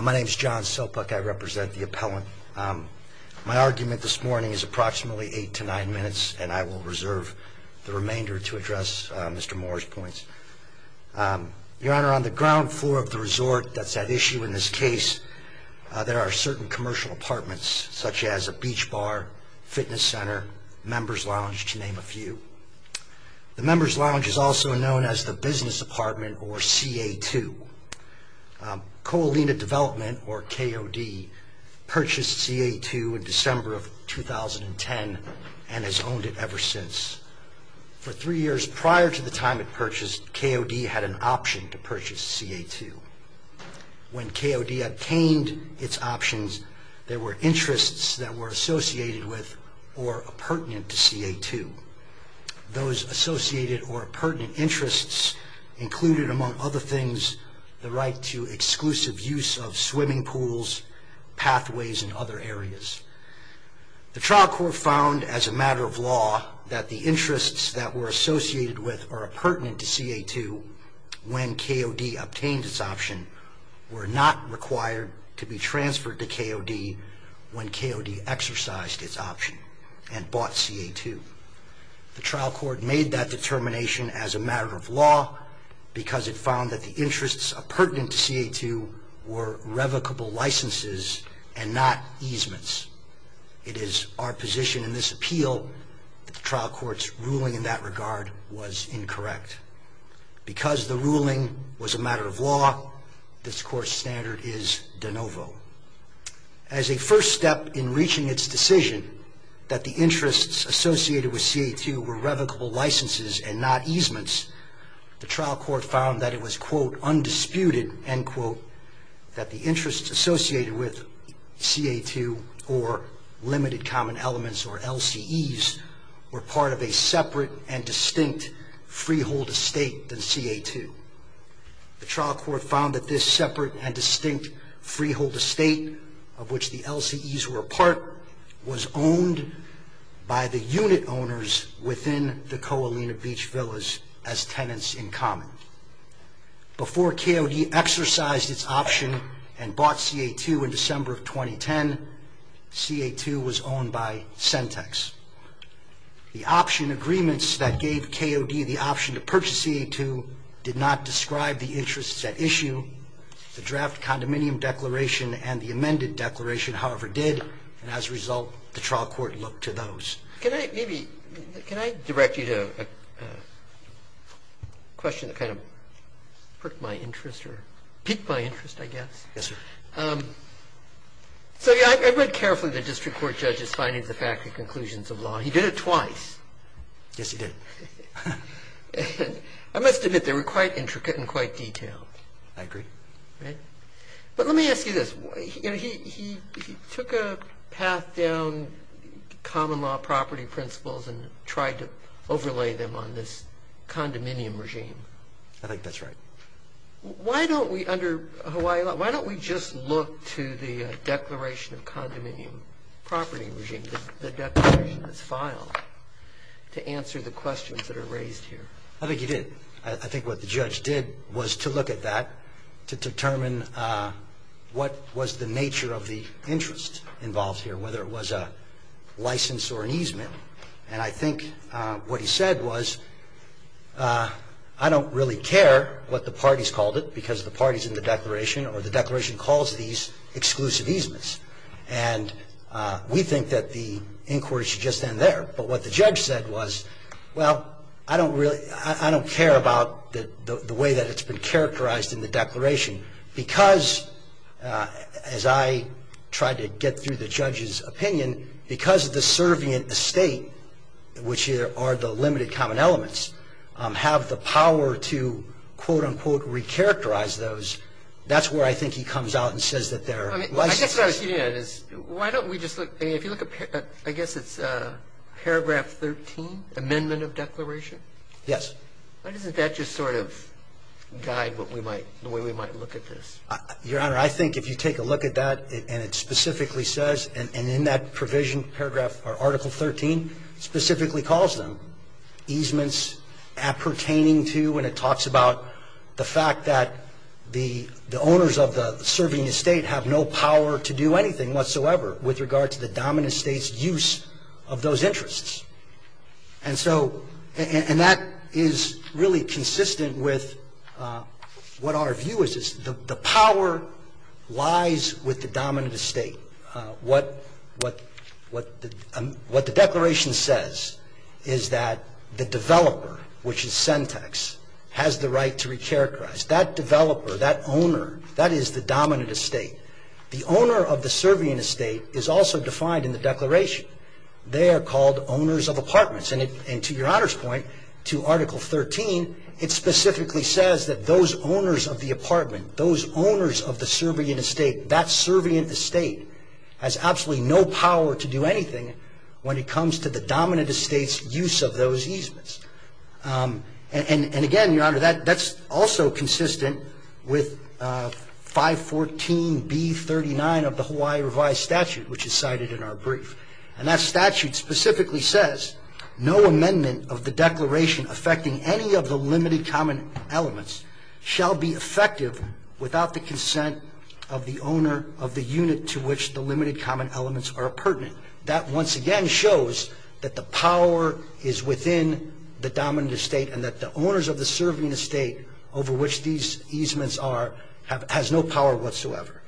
My name is John Selpuk. I represent the appellant. My argument this morning is approximately eight to nine minutes and I will reserve the remainder to address Mr. Moore's points. Your Honor, on the ground floor of the resort that's at issue in this case there are certain commercial apartments such as a beach bar, fitness center, members lounge to name a few. The members lounge is also known as the business apartment or CA2. Ko Olina Development or KOD purchased CA2 in December of 2010 and has owned it ever since. For three years prior to the time it purchased, KOD had an option to purchase CA2. When KOD obtained its options there were interests that were associated with or pertinent to CA2. Those associated or pertinent interests included among other things the right to exclusive use of swimming pools, pathways, and other areas. The trial court found as a matter of law that the interests that were associated with or pertinent to CA2 when KOD obtained its option were not required to be The trial court made that determination as a matter of law because it found that the interests pertinent to CA2 were revocable licenses and not easements. It is our position in this appeal that the trial court's ruling in that regard was incorrect. Because the ruling was a matter of law, this court's standard is de novo. As a first step in reaching its decision that the interests associated with CA2 were revocable licenses and not easements, the trial court found that it was, quote, undisputed, end quote, that the interests associated with CA2 or limited common elements or LCEs were part of a separate and distinct freehold estate than CA2. The trial court found that this separate and distinct freehold estate of which the LCEs were a part was owned by the unit owners within the Coalina Beach Villas as tenants in common. Before KOD exercised its option and bought CA2 in December of 2010, CA2 was owned by Centex. The option agreements that gave KOD the option to purchase CA2 did not describe the and the amended declaration, however, did. And as a result, the trial court looked to those. Can I maybe, can I direct you to a question that kind of perked my interest or piqued my interest, I guess? Yes, sir. So I read carefully the district court judge's findings, the fact, the conclusions of law. He did it twice. Yes, he did. I must admit, they were quite intricate and quite detailed. I agree. But let me ask you this. He took a path down common law property principles and tried to overlay them on this condominium regime. I think that's right. Why don't we, under Hawaii law, why don't we just look to the declaration of condominium property regime, the declaration that's filed, to answer the questions that are raised here? I think he did. I think what the judge did was to look at that, to determine what was the nature of the interest involved here, whether it was a license or an easement. And I think what he said was, I don't really care what the parties called it because the parties in the declaration or the declaration calls these exclusive easements. And we think that the inquiry should just end there. But what the judge said was, well, I don't care about the way that it's been characterized in the declaration because, as I tried to get through the judge's opinion, because of the servient estate, which are the limited common elements, have the power to, quote, unquote, recharacterize those, that's where I think he comes out and says that there are licenses. I guess what I was getting at is, why don't we just look, I mean, if you look at, I guess it's paragraph 13, amendment of declaration? Yes. Why doesn't that just sort of guide what we might, the way we might look at this? Your Honor, I think if you take a look at that and it specifically says, and in that provision, paragraph, or article 13, specifically calls them easements appertaining to, and it talks about the fact that the owners of the servient estate have no power to do anything whatsoever with regard to the dominant estate's use of those interests. And so, and that is really consistent with what our view is. The power lies with the dominant estate. What, what, what the declaration says is that the developer, which is Sentex, has the right to recharacterize. That developer, that owner, that is the dominant estate. The owner of the servient estate is also defined in the declaration. They are called owners of apartments. And it, and to your Honor's point, to article 13, it specifically says that those owners of the apartment, those owners of the servient estate, that servient estate has absolutely no power to do anything when it comes to the dominant estate's use of those easements. And, and, and again, your Honor, that, that's also consistent with 514B39 of the Hawaii revised statute, which is cited in our brief, and that statute specifically says no amendment of the declaration affecting any of the limited common elements shall be effective without the consent of the owner of the unit to which the limited common elements are appurtenant. That once again shows that the power is within the dominant estate and that the owners of the servient estate over which these easements are, have, has no power whatsoever.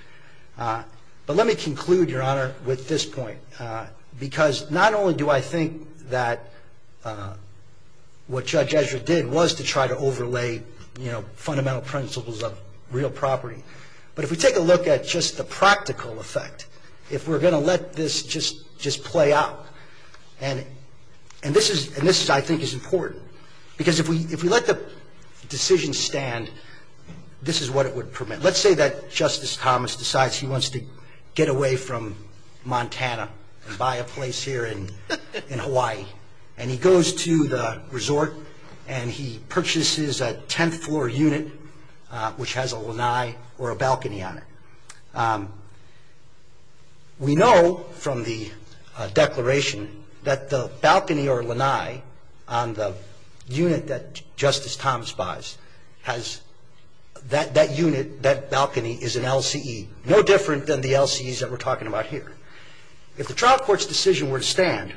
But let me conclude, your Honor, with this point. Because not only do I think that what Judge Ezra did was to try to overlay, you know, fundamental principles of real property. But if we take a look at just the practical effect, if we're gonna let this just, just play out, and, and this is, and this I think is important. Because if we, if we let the decision stand, this is what it would permit. Let's say that Justice Thomas decides he wants to get away from Montana and buy a place here in, in Hawaii. And he goes to the resort and he purchases a tenth floor unit which has a lanai or a balcony on it. We know from the declaration that the balcony or lanai on the unit that Justice Thomas buys has, that, that unit, that balcony is an LCE. No different than the LCEs that we're talking about here. If the trial court's decision were to stand,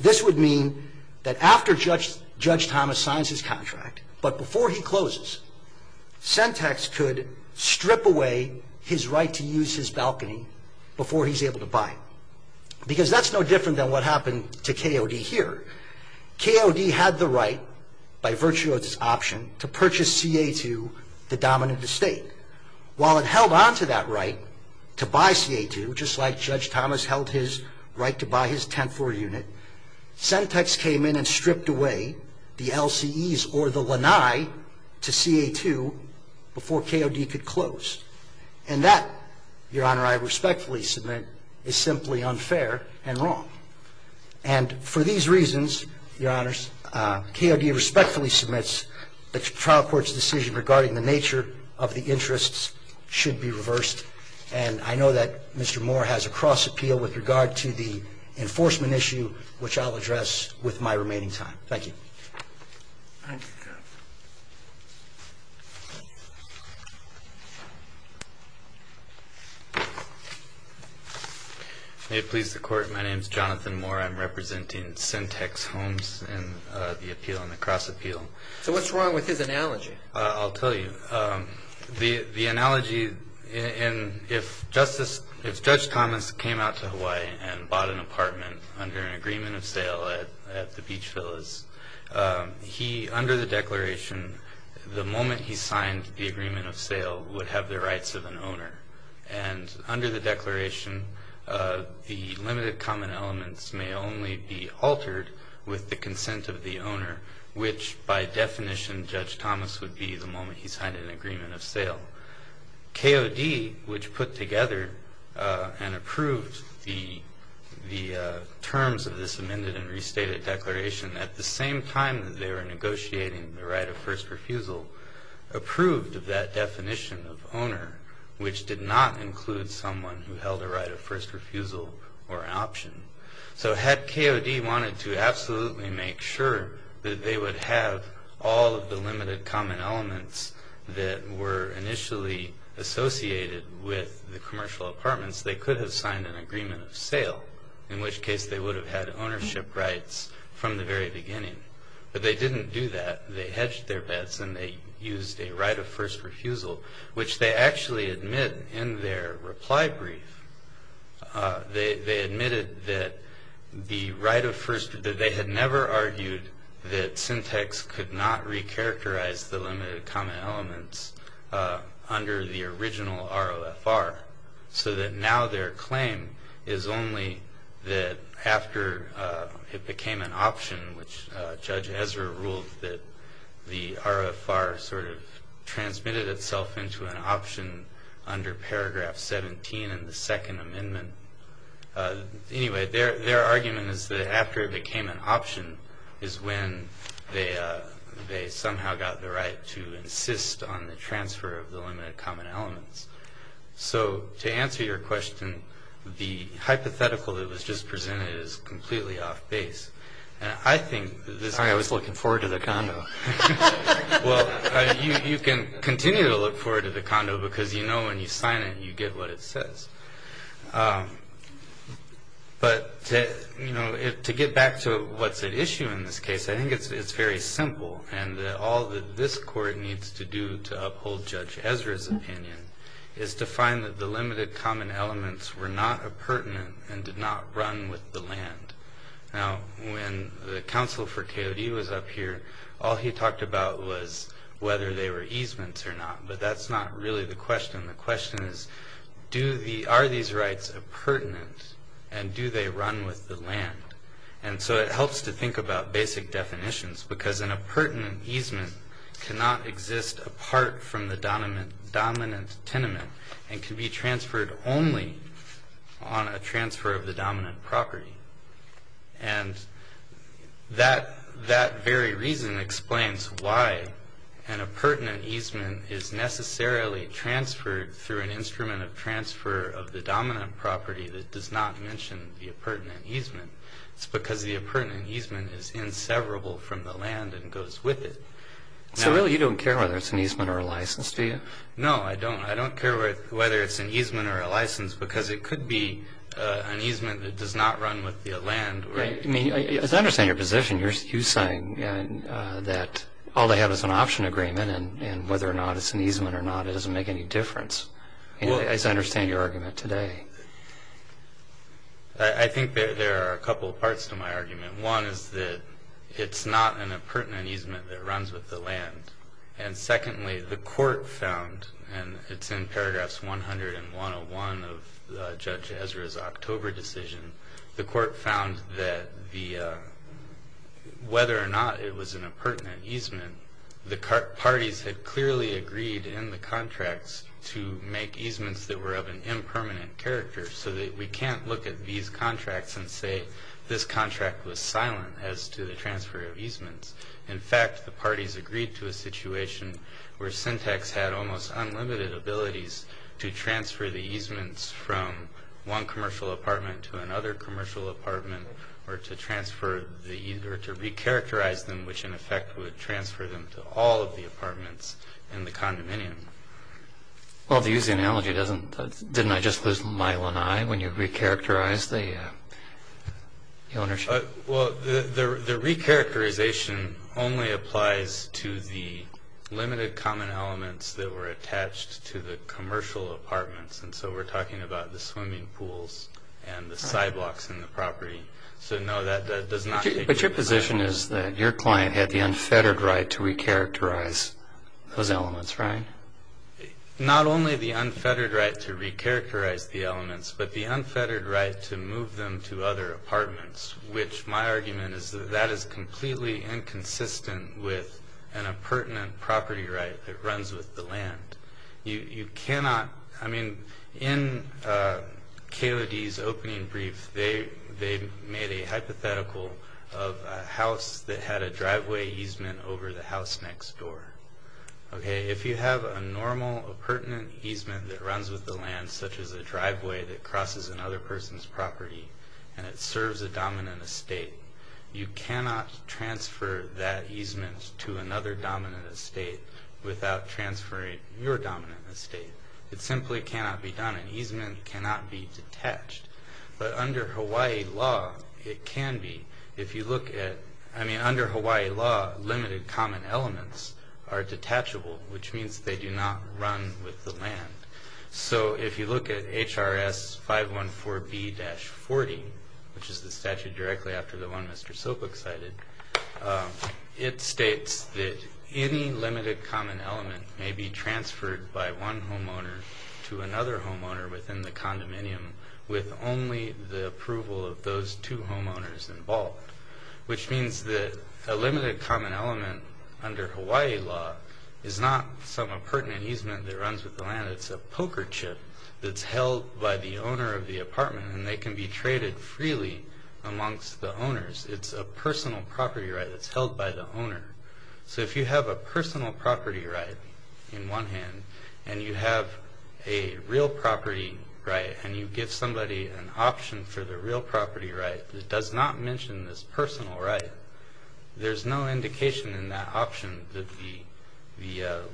this would mean that after Judge, Judge Thomas signs his contract, but before he closes, Sentex could strip away his right to use his balcony before he's able to buy it. Because that's no different than what happened to KOD here. KOD had the right, by virtue of this option, to purchase CA2, the dominant estate. While it held on to that right to buy CA2, just like Judge Thomas held his right to buy his tenth floor unit. Sentex came in and stripped away the LCEs or the lanai to CA2 before KOD could close. And that, Your Honor, I respectfully submit, is simply unfair and wrong. And for these reasons, Your Honors, KOD respectfully submits the trial court's decision regarding the nature of the interests should be reversed. And I know that Mr. Moore has a cross appeal with regard to the enforcement issue, which I'll address with my remaining time. Thank you. May it please the court, my name's Jonathan Moore. I'm representing Sentex Homes in the appeal, in the cross appeal. So what's wrong with his analogy? I'll tell you. The analogy, and if Justice, if Judge Thomas came out to Hawaii and bought an apartment under an agreement of sale at the Beach Villas, he, under the declaration, the moment he signed the agreement of sale, would have the rights of an owner. And under the declaration, the limited common elements may only be the moment he signed an agreement of sale. KOD, which put together and approved the terms of this amended and restated declaration at the same time that they were negotiating the right of first refusal, approved that definition of owner, which did not include someone who held a right of first refusal or an option. So had KOD wanted to absolutely make sure that they would have all of the limited common elements that were initially associated with the commercial apartments, they could have signed an agreement of sale. In which case, they would have had ownership rights from the very beginning. But they didn't do that. They hedged their bets and they used a right of first refusal, which they actually admit in their reply brief. They admitted that the right of first, that they had never argued that syntax could not re-characterize the limited common elements under the original ROFR. So that now their claim is only that after it became an option, which Judge Ezra ruled that the ROFR sort of transmitted itself into an option under paragraph 17 in the second amendment. Anyway, their argument is that after it became an option is when they somehow got the right to insist on the transfer of the limited common elements. So to answer your question, the hypothetical that was just presented is completely off base. And I think this- I was looking forward to the condo. Well, you can continue to look forward to the condo because you know when you sign it, you get what it says. But to get back to what's at issue in this case, I think it's very simple. And all that this court needs to do to uphold Judge Ezra's opinion is to find that the limited common elements were not appurtenant and did not run with the land. Now, when the counsel for Coyote was up here, all he talked about was whether they were easements or not. But that's not really the question. The question is, are these rights appurtenant and do they run with the land? And so it helps to think about basic definitions because an appurtenant easement cannot exist apart from the dominant tenement and can be transferred only on a transfer of the dominant property. And that very reason explains why an appurtenant easement is necessarily transferred through an instrument of transfer of the dominant property that does not mention the appurtenant easement. It's because the appurtenant easement is inseverable from the land and goes with it. So really you don't care whether it's an easement or a license, do you? No, I don't. I don't care whether it's an easement or a license because it could be an easement that does not run with the land. I mean, I understand your position. You're saying that all they have is an option agreement, and whether or not it's an easement or not, it doesn't make any difference. I understand your argument today. I think that there are a couple of parts to my argument. One is that it's not an appurtenant easement that runs with the land. And secondly, the court found, and it's in paragraphs 100 and 101 of Judge Ezra's October decision. The court found that whether or not it was an appurtenant easement, the parties had clearly agreed in the contracts to make easements that were of an impermanent character, so that we can't look at these contracts and say this contract was silent as to the transfer of easements. In fact, the parties agreed to a situation where Syntax had almost unlimited abilities to transfer the easements from one commercial apartment to another commercial apartment, or to re-characterize them, which in effect would transfer them to all of the apartments in the condominium. Well, to use the analogy, didn't I just lose my one eye when you re-characterized the ownership? Well, the re-characterization only applies to the limited common elements that were attached to the commercial apartments. And so we're talking about the swimming pools and the sidewalks in the property. So no, that does not- But your position is that your client had the unfettered right to re-characterize those elements, right? Not only the unfettered right to re-characterize the elements, but the unfettered right to move them to other apartments. Which my argument is that that is completely inconsistent with an appurtenant property right that runs with the land. You cannot, I mean, in KOD's opening brief, they made a hypothetical of a house that had a driveway easement over the house next door, okay? If you have a normal appurtenant easement that runs with the land, such as a driveway that crosses another person's property, and it serves a dominant estate, you cannot transfer that easement to another dominant estate without transferring your dominant estate. It simply cannot be done, an easement cannot be detached. But under Hawaii law, it can be. If you look at, I mean, under Hawaii law, limited common elements are detachable, which means they do not run with the land. So if you look at HRS 514B-40, which is the statute directly after the one Mr. Soapbook cited, it states that any limited common element may be transferred by one homeowner to another homeowner within the condominium with only the approval of those two homeowners involved, which means that a limited common element under Hawaii law is not some appurtenant easement that runs with the land. It's a poker chip that's held by the owner of the apartment, and they can be traded freely amongst the owners. It's a personal property right that's held by the owner. So if you have a personal property right in one hand, and you have a real property right, and you give somebody an option for the real property right that does not mention this personal right, there's no indication in that option that the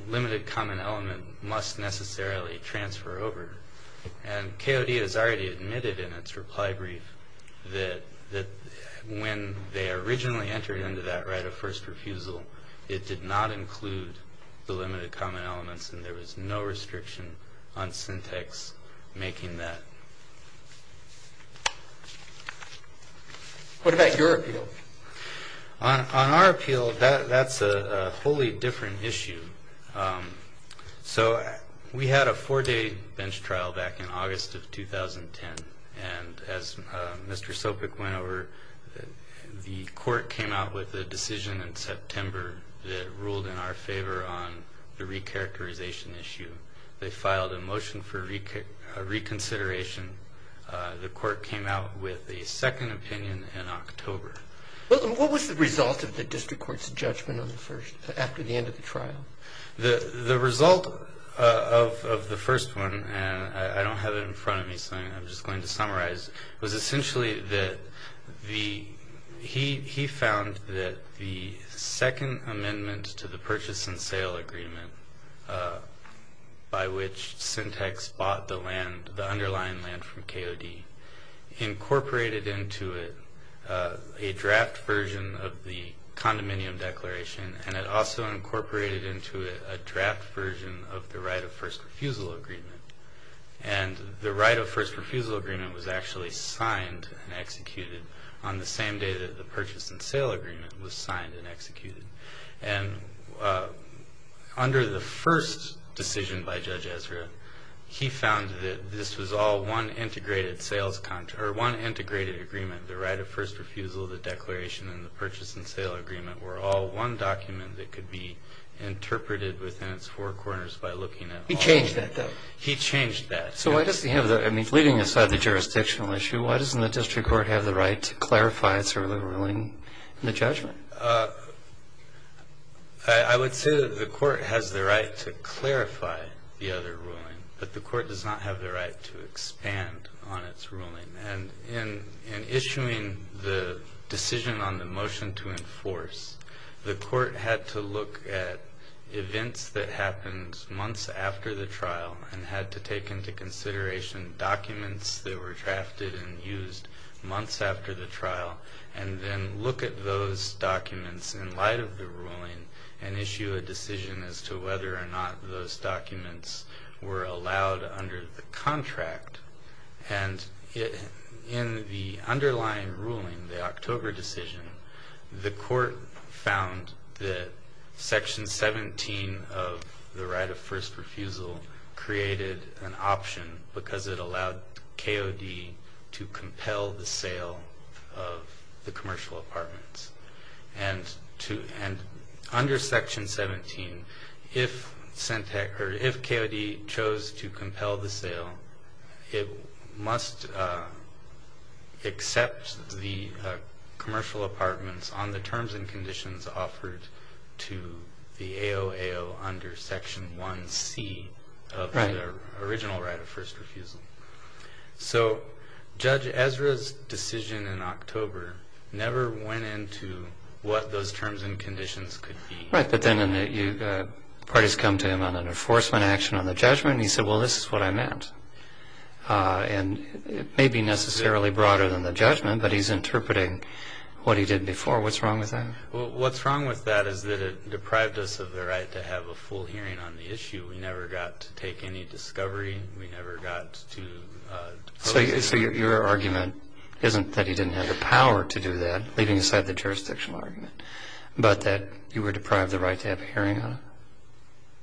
limited common element must necessarily transfer over. And KOD has already admitted in its reply brief that when they originally entered into that right of first refusal, it did not include the limited common elements, and there was no restriction on syntax making that. What about your appeal? On our appeal, that's a wholly different issue. So we had a four-day bench trial back in August of 2010, and as Mr. Sopic went over, the court came out with a decision in September that ruled in our favor on the recharacterization issue. They filed a motion for reconsideration. The court came out with a second opinion in October. What was the result of the district court's judgment after the end of the trial? The result of the first one, and I don't have it in front of me, so I'm just going to summarize, was essentially that he found that the second amendment to the purchase and sale agreement by which Syntex bought the land, the underlying land from KOD, incorporated into it a draft version of the condominium declaration, and it also incorporated into it a draft version of the right of first refusal agreement, and the right of first refusal agreement was actually signed and executed on the same day that the purchase and sale agreement was signed and executed. And under the first decision by Judge Ezra, he found that this was all one integrated agreement, the right of first refusal, the declaration, and the purchase and sale agreement were all one document that could be interpreted within its four corners by looking at- He changed that, though? He changed that. So why doesn't he have the, I mean, leaving aside the jurisdictional issue, why doesn't the district court have the right to clarify its earlier ruling in the judgment? I would say that the court has the right to clarify the other ruling, but the court does not have the right to expand on its ruling. And in issuing the decision on the motion to enforce, the court had to look at events that happened months after the trial and had to take into consideration documents that were drafted and documents in light of the ruling and issue a decision as to whether or not those documents were allowed under the contract. And in the underlying ruling, the October decision, the court found that section 17 of the right of first refusal created an option because it allowed KOD to compel the sale of the commercial apartments. And under section 17, if KOD chose to compel the sale, it must accept the commercial apartments on the terms and conditions offered to the AOAO under section 1C of the original right of first refusal. So, Judge Ezra's decision in October never went into what those terms and conditions could be. Right, but then the parties come to him on an enforcement action on the judgment, and he said, well, this is what I meant. And it may be necessarily broader than the judgment, but he's interpreting what he did before. What's wrong with that? Well, what's wrong with that is that it deprived us of the right to have a full hearing on the issue. We never got to take any discovery. We never got to- So your argument isn't that he didn't have the power to do that, leaving aside the jurisdictional argument, but that you were deprived the right to have a hearing on it?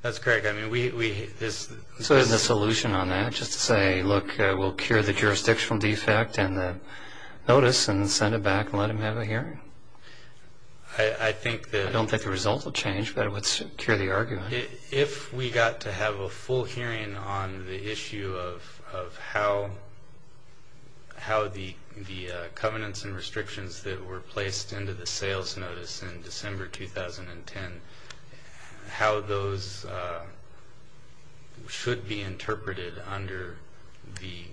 That's correct. I mean, we- So isn't the solution on that just to say, look, we'll cure the jurisdictional defect and the notice and send it back and let him have a hearing? I think that- I don't think the result will change, but it would cure the argument. If we got to have a full hearing on the issue of how the covenants and restrictions that were placed into the sales notice in December 2010, how those should be interpreted under the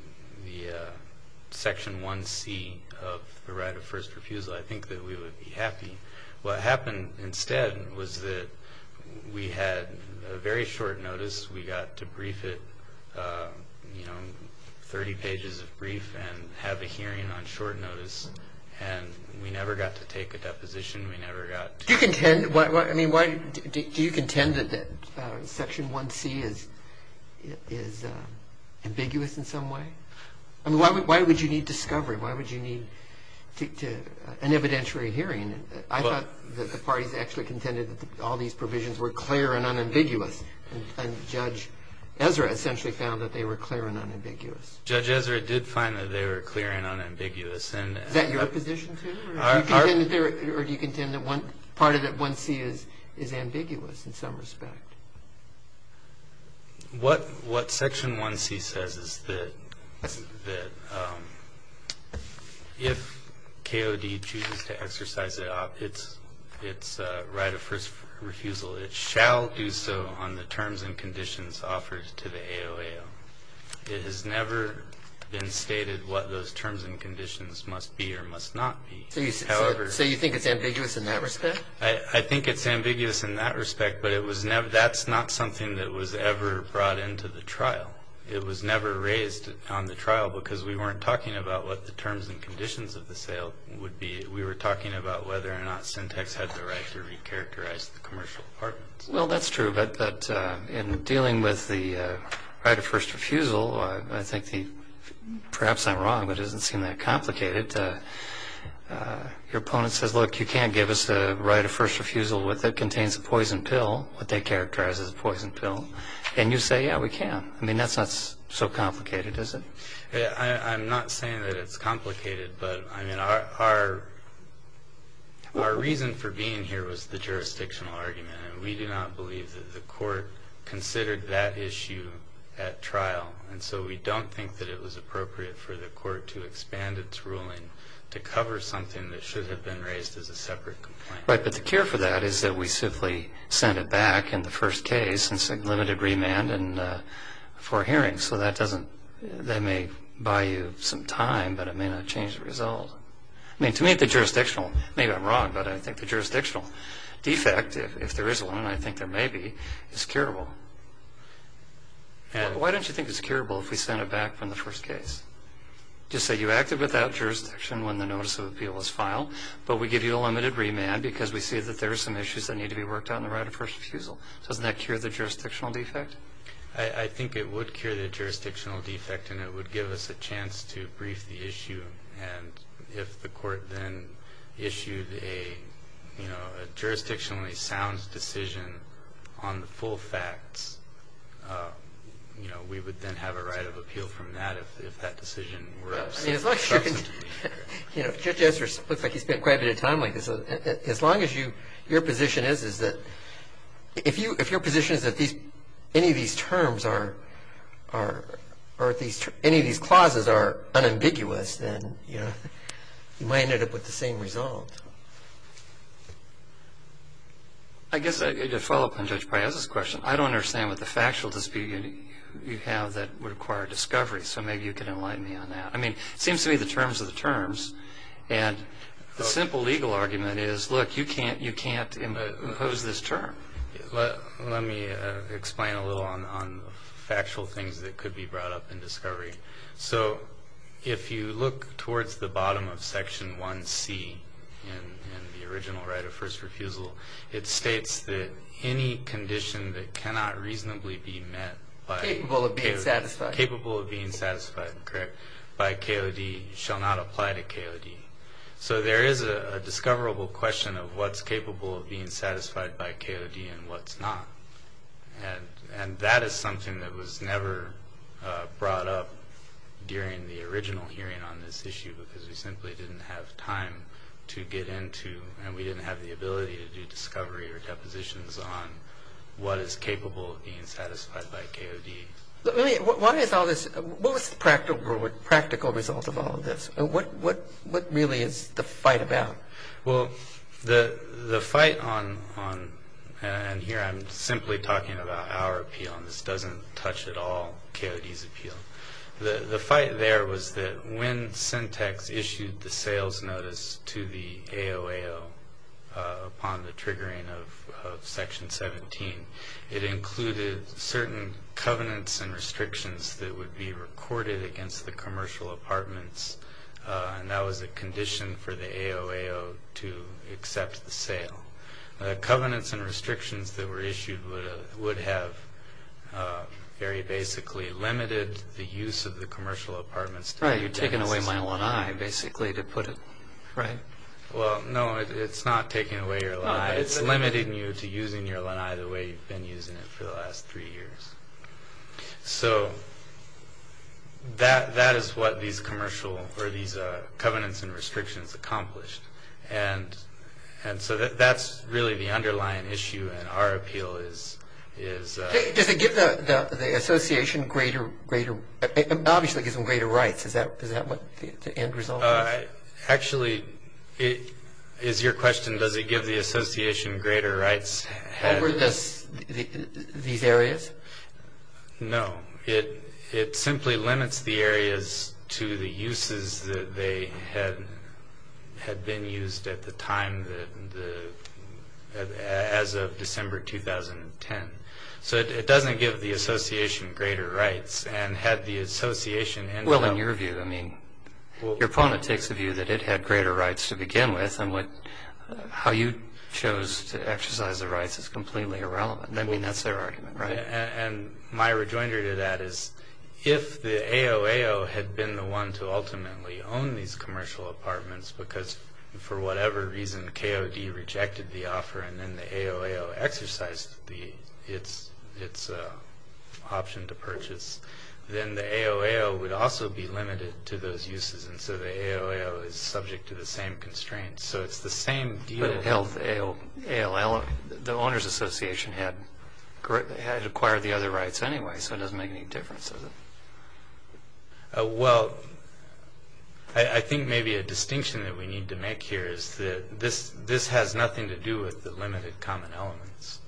section 1C of the right of first refusal, I think that we would be happy. What happened instead was that we had a very short notice. We got to brief it, 30 pages of brief, and have a hearing on short notice, and we never got to take a deposition. We never got- Do you contend that section 1C is ambiguous in some way? I mean, why would you need discovery? Why would you need an evidentiary hearing? I thought that the parties actually contended that all these provisions were clear and unambiguous, and Judge Ezra essentially found that they were clear and unambiguous. Judge Ezra did find that they were clear and unambiguous, and- Is that your position, too, or do you contend that part of that 1C is ambiguous in some respect? What section 1C says is that if KOD chooses to exercise its right of first refusal, it shall do so on the terms and conditions offered to the AOAO. It has never been stated what those terms and conditions must be or must not be. So you think it's ambiguous in that respect? I think it's ambiguous in that respect, but it was never, that's not something that was ever brought into the trial. It was never raised on the trial because we weren't talking about what the terms and conditions of the sale would be. We were talking about whether or not Centex had the right to recharacterize the commercial apartments. Well, that's true, but in dealing with the right of first refusal, I think the, perhaps I'm wrong, but it doesn't seem that complicated. Your opponent says, look, you can't give us the right of first refusal with what contains a poison pill, what they characterize as a poison pill. And you say, yeah, we can. I mean, that's not so complicated, is it? I'm not saying that it's complicated, but I mean, our reason for being here was the jurisdictional argument. And we do not believe that the court considered that issue at trial. And so we don't think that it was appropriate for the court to expand its ruling to cover something that should have been raised as a separate complaint. Right, but the care for that is that we simply send it back in the first case, since it limited remand and for hearings. So that doesn't, that may buy you some time, but it may not change the result. I mean, to me, the jurisdictional, maybe I'm wrong, but I think the jurisdictional defect, if there is one, and I think there may be, is curable. Why don't you think it's curable if we send it back from the first case? Just say you acted without jurisdiction when the notice of appeal was filed, but we give you a limited remand because we see that there are some issues that need to be worked out in the right of first refusal. Doesn't that cure the jurisdictional defect? I think it would cure the jurisdictional defect, and it would give us a chance to brief the issue. And if the court then issued a jurisdictionally sound decision on the full facts, we would then have a right of appeal from that, if that decision were of some substance to be heard. Judges, it looks like you spent quite a bit of time on this. As long as you, your position is that, if your position is that any of these terms are, or any of these clauses are unambiguous, then you might end up with the same result. I guess, to follow up on Judge Piazza's question, I don't understand what the factual dispute you have that would require discovery, so maybe you could enlighten me on that. I mean, it seems to me the terms are the terms, and the simple legal argument is, look, you can't impose this term. Let me explain a little on factual things that could be brought up in discovery. So if you look towards the bottom of section 1C, in the original right of first refusal, it states that any condition that cannot reasonably be met by- Capable of being satisfied. Capable of being satisfied, correct, by KOD shall not apply to KOD. So there is a discoverable question of what's capable of being satisfied by KOD and what's not. And that is something that was never brought up during the original hearing on this issue because we simply didn't have time to get into, and we didn't have the ability to do discovery or depositions on what is capable of being satisfied by KOD. Let me, why is all this, what was the practical result of all of this? What really is the fight about? Well, the fight on, and here I'm simply talking about our appeal, and this doesn't touch at all KOD's appeal. The fight there was that when Syntex issued the sales notice to the AOAO upon the triggering of section 17, it included certain covenants and restrictions that would be recorded against the commercial apartments. And that was a condition for the AOAO to accept the sale. The covenants and restrictions that were issued would have very basically limited the use of the commercial apartments. Right, you're taking away my lanai, basically, to put it, right? Well, no, it's not taking away your lanai. It's limiting you to using your lanai the way you've been using it for the last three years. So that is what these covenants and restrictions accomplished. And so that's really the underlying issue, and our appeal is- Does it give the association greater, obviously, it gives them greater rights. Is that what the end result is? Actually, is your question, does it give the association greater rights? Over these areas? No, it simply limits the areas to the uses that they had been used at the time, as of December 2010. So it doesn't give the association greater rights, and had the association- Well, in your view, I mean, your opponent takes the view that it had greater rights to begin with, and how you chose to exercise the rights is completely irrelevant. I mean, that's their argument, right? And my rejoinder to that is, if the AOAO had been the one to ultimately own these commercial apartments, because for whatever reason, KOD rejected the offer, and then the AOAO exercised its option to purchase, then the AOAO would also be limited to those uses. And so the AOAO is subject to the same constraints. So it's the same deal- But it held the AOAO, the owner's association had acquired the other rights anyway, so it doesn't make any difference, does it? Well, I think maybe a distinction that we need to make here is that this has nothing to do with the limited common elements.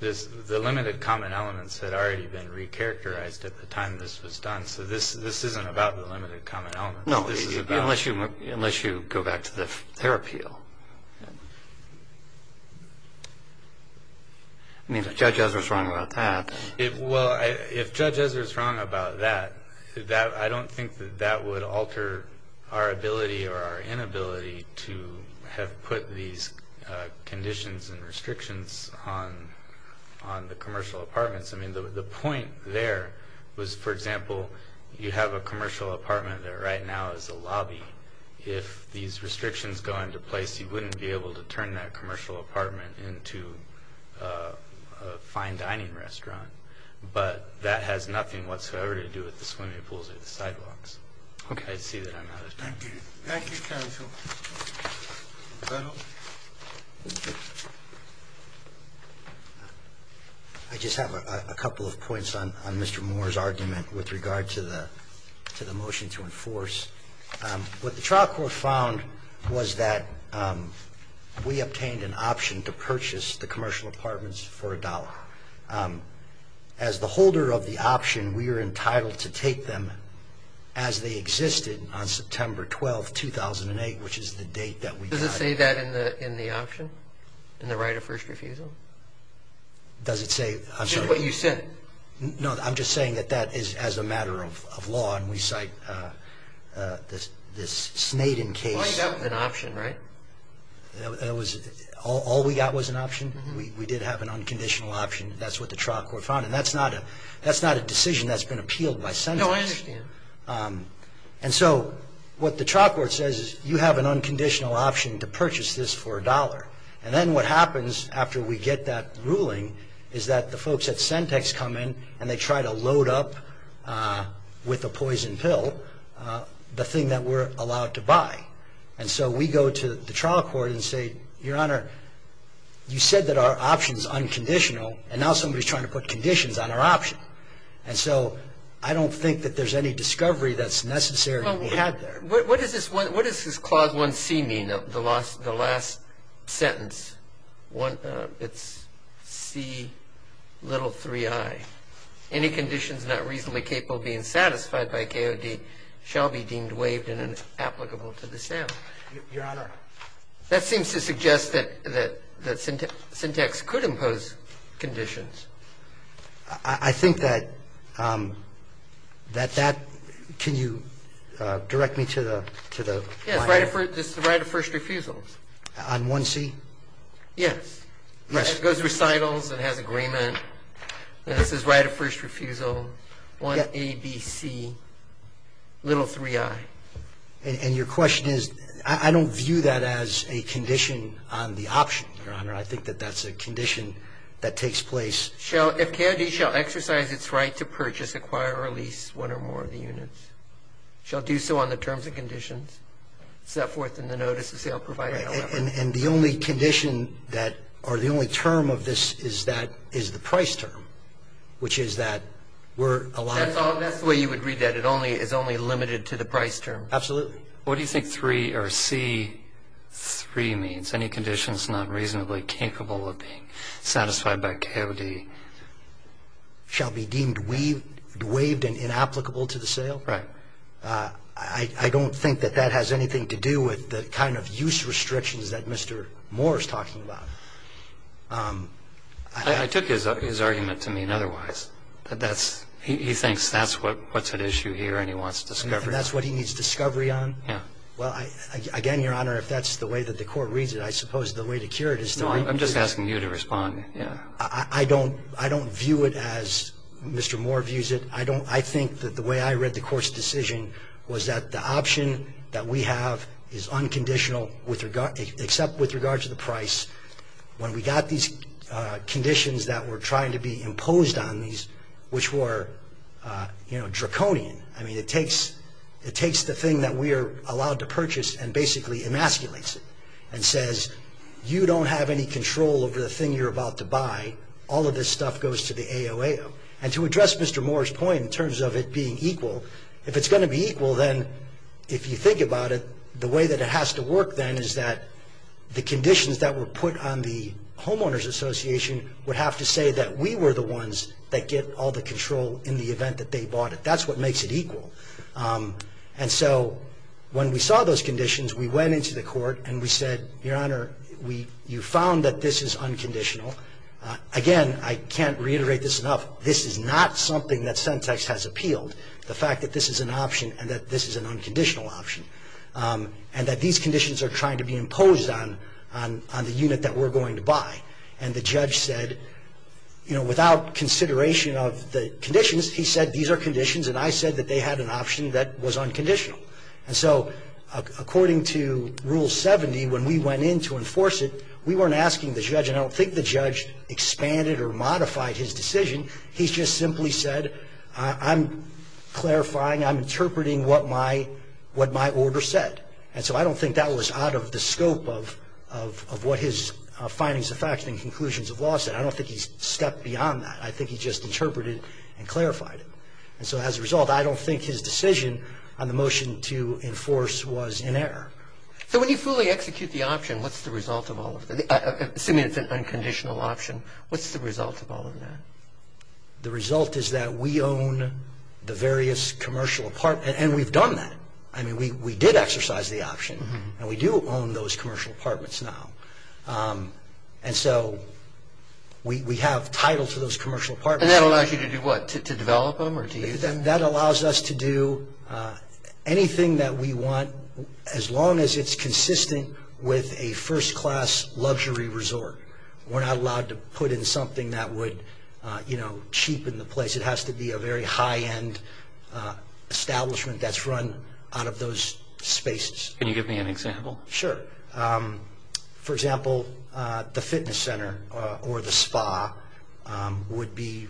The limited common elements had already been re-characterized at the time this was done, so this isn't about the limited common elements. No, unless you go back to their appeal. I mean, if Judge Ezra's wrong about that- Well, if Judge Ezra's wrong about that, I don't think that that would alter our ability or our inability to have put these conditions and restrictions on the commercial apartments. I mean, the point there was, for example, you have a commercial apartment that right now is a lobby. If these restrictions go into place, you wouldn't be able to turn that commercial apartment into a fine dining restaurant. But that has nothing whatsoever to do with the swimming pools or the sidewalks. Okay. I see that I'm out of time. Thank you, counsel. I just have a couple of points on Mr. Moore's argument with regard to the motion to enforce. What the trial court found was that we obtained an option to purchase the commercial apartments for a dollar. As the holder of the option, we are entitled to take them as they existed on September 12, 2008, which is the date that we got them. Does it say that in the option, in the right of first refusal? Does it say? I'm sorry. Just what you said. No, I'm just saying that that is as a matter of law, and we cite this Snaden case- You lined up an option, right? All we got was an option. We did have an unconditional option. That's what the trial court found. And that's not a decision that's been appealed by Sentex. No, I understand. And so what the trial court says is you have an unconditional option to purchase this for a dollar. And then what happens after we get that ruling is that the folks at Sentex come in, and they try to load up with a poison pill the thing that we're allowed to buy. And so we go to the trial court and say, Your Honor, you said that our option is unconditional, and now somebody's trying to put conditions on our option. And so I don't think that there's any discovery that's necessary that we had there. What does this clause 1C mean, the last sentence? It's C little 3I. Any conditions not reasonably capable of being satisfied by KOD shall be deemed waived and inapplicable to the Senate. Your Honor. That seems to suggest that Sentex could impose conditions. I think that that, can you direct me to the, to the. Yes, this is the right of first refusal. On 1C? Yes. It goes to recitals, it has agreement, and this is right of first refusal. 1A, B, C, little 3I. And your question is, I don't view that as a condition on the option, Your Honor. I think that that's a condition that takes place. Shall, if KOD shall exercise its right to purchase, acquire, or lease one or more of the units, shall do so on the terms and conditions. Step forth in the notice of sale provided. And the only condition that, or the only term of this is that, is the price term. Which is that we're allowed. That's the way you would read that. It only, it's only limited to the price term. Absolutely. What do you think 3 or C, 3 means? Any conditions not reasonably capable of being satisfied by KOD shall be deemed waived and inapplicable to the sale? Right. I, I don't think that that has anything to do with the kind of use restrictions that Mr. Moore is talking about. I, I took his, his argument to mean otherwise. That that's, he, he thinks that's what, what's at issue here and he wants discovery. And that's what he needs discovery on? Yeah. Well, I, I, again, Your Honor, if that's the way that the court reads it, I suppose the way to cure it is to. No, I'm, I'm just asking you to respond, yeah. I, I, I don't, I don't view it as Mr. Moore views it. I don't, I think that the way I read the court's decision was that the option that we have is when we got these conditions that were trying to be imposed on these, which were, you know, draconian. I mean, it takes, it takes the thing that we are allowed to purchase and basically emasculates it. And says, you don't have any control over the thing you're about to buy. All of this stuff goes to the AOAO. And to address Mr. Moore's point in terms of it being equal, if it's going to be equal, then if you think about it, the way that it has to work then is that the conditions that were put on the homeowners association would have to say that we were the ones that get all the control in the event that they bought it. That's what makes it equal. And so, when we saw those conditions, we went into the court and we said, Your Honor, we, you found that this is unconditional. Again, I can't reiterate this enough. This is not something that Centex has appealed. The fact that this is an option and that this is an unconditional option. And that these conditions are trying to be imposed on the unit that we're going to buy. And the judge said, you know, without consideration of the conditions, he said, these are conditions, and I said that they had an option that was unconditional. And so, according to Rule 70, when we went in to enforce it, we weren't asking the judge, and I don't think the judge expanded or modified his decision. He just simply said, I'm clarifying, I'm interpreting what my order said. And so, I don't think that was out of the scope of what his findings of facts and conclusions of law said. I don't think he's stepped beyond that. I think he just interpreted and clarified it. And so, as a result, I don't think his decision on the motion to enforce was in error. So, when you fully execute the option, what's the result of all of that? Assuming it's an unconditional option, what's the result of all of that? The result is that we own the various commercial apartments, and we've done that. I mean, we did exercise the option, and we do own those commercial apartments now. And so, we have title to those commercial apartments. And that allows you to do what, to develop them or to use them? That allows us to do anything that we want, as long as it's consistent with a first-class luxury resort. We're not allowed to put in something that would, you know, cheapen the place. It has to be a very high-end establishment that's run out of those spaces. Can you give me an example? Sure. For example, the fitness center or the spa would be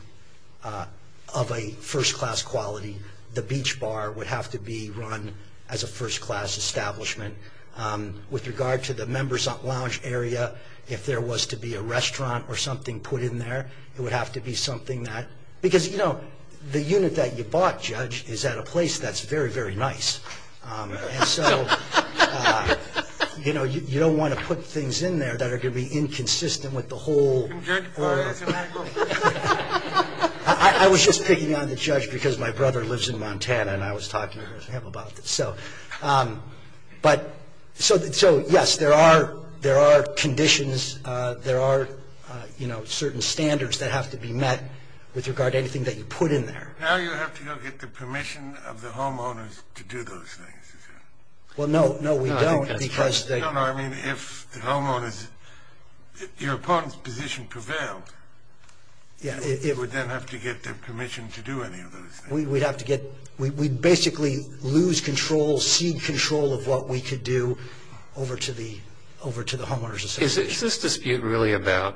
of a first-class quality. The beach bar would have to be run as a first-class establishment. With regard to the member's lounge area, if there was to be a restaurant or something put in there, it would have to be something that, because, you know, the unit that you bought, Judge, is at a place that's very, very nice. And so, you know, you don't want to put things in there that are going to be inconsistent with the whole... Judge, can I go? I was just picking on the judge because my brother lives in Montana, and I was talking to him about this. So, yes, there are conditions, there are, you know, certain standards that have to be met with regard to anything that you put in there. Now you have to go get the permission of the homeowners to do those things. Well, no, no, we don't because... No, no, I mean, if the homeowners, if your opponent's position prevailed, you would then have to get their permission to do any of those things. We'd have to get... We'd basically lose control, cede control of what we could do over to the homeowners association. Is this dispute really about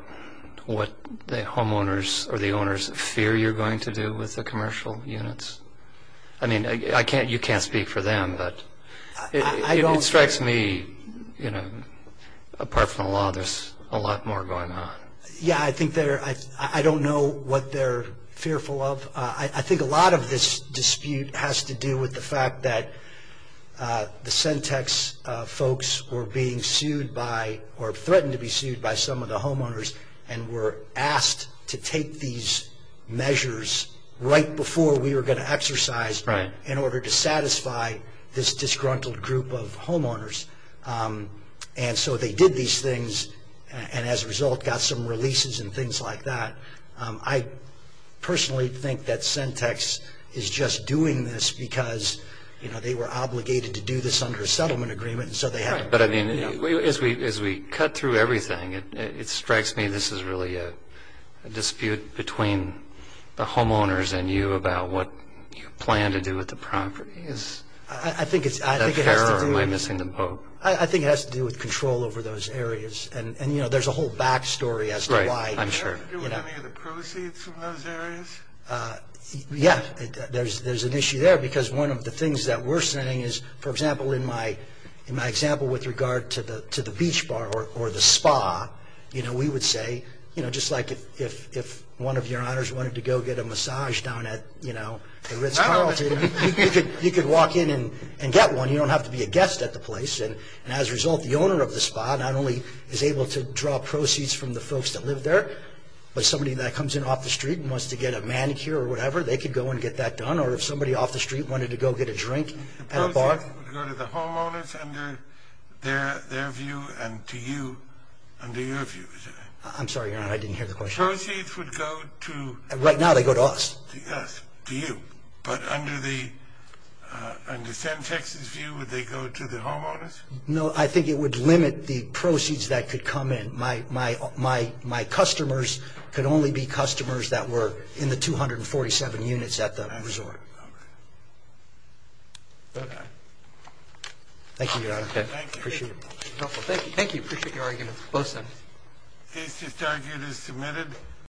what the homeowners or the owners fear you're going to do with the commercial units? I mean, I can't... You can't speak for them, but it strikes me, you know, apart from the law, there's a lot more going on. Yeah, I think they're... I don't know what they're fearful of. I think a lot of this dispute has to do with the fact that the Centex folks were being sued by, or threatened to be sued by some of the homeowners and were asked to take these measures right before we were going to exercise in order to satisfy this disgruntled group of homeowners. And so they did these things and as a result got some releases and things like that. I personally think that Centex is just doing this because, you know, they were obligated to do this under a settlement agreement and so they had... But I mean, as we cut through everything, it strikes me this is really a dispute between the homeowners and you about what you plan to do with the property. Is that fair or am I missing the boat? I think it has to do with control over those areas. And, you know, there's a whole backstory as to why... Right, I'm sure. Do you have any of the proceeds from those areas? Yeah, there's an issue there because one of the things that we're saying is, for example, in my example with regard to the beach bar or the spa, you know, we would say, you know, just like if one of your owners wanted to go get a massage down at, you know, the Ritz-Carlton, you could walk in and get one. You don't have to be a guest at the place. And as a result, the owner of the spa not only is able to draw proceeds from the folks that live there, but somebody that comes in off the street and wants to get a manicure or whatever, they could go and get that done. Or if somebody off the street wanted to go get a drink at a bar... The proceeds would go to the homeowners under their view and to you under your view, is that right? I'm sorry, Your Honor, I didn't hear the question. Proceeds would go to... Right now, they go to us. To us, to you. But under the San-Texas view, would they go to the homeowners? No, I think it would limit the proceeds that could come in. My customers could only be customers that were in the 247 units at the resort. All right. Okay. Thank you, Your Honor. Okay, thank you. Appreciate it. Thank you, thank you. Appreciate your argument, both sides. Case to start is submitted.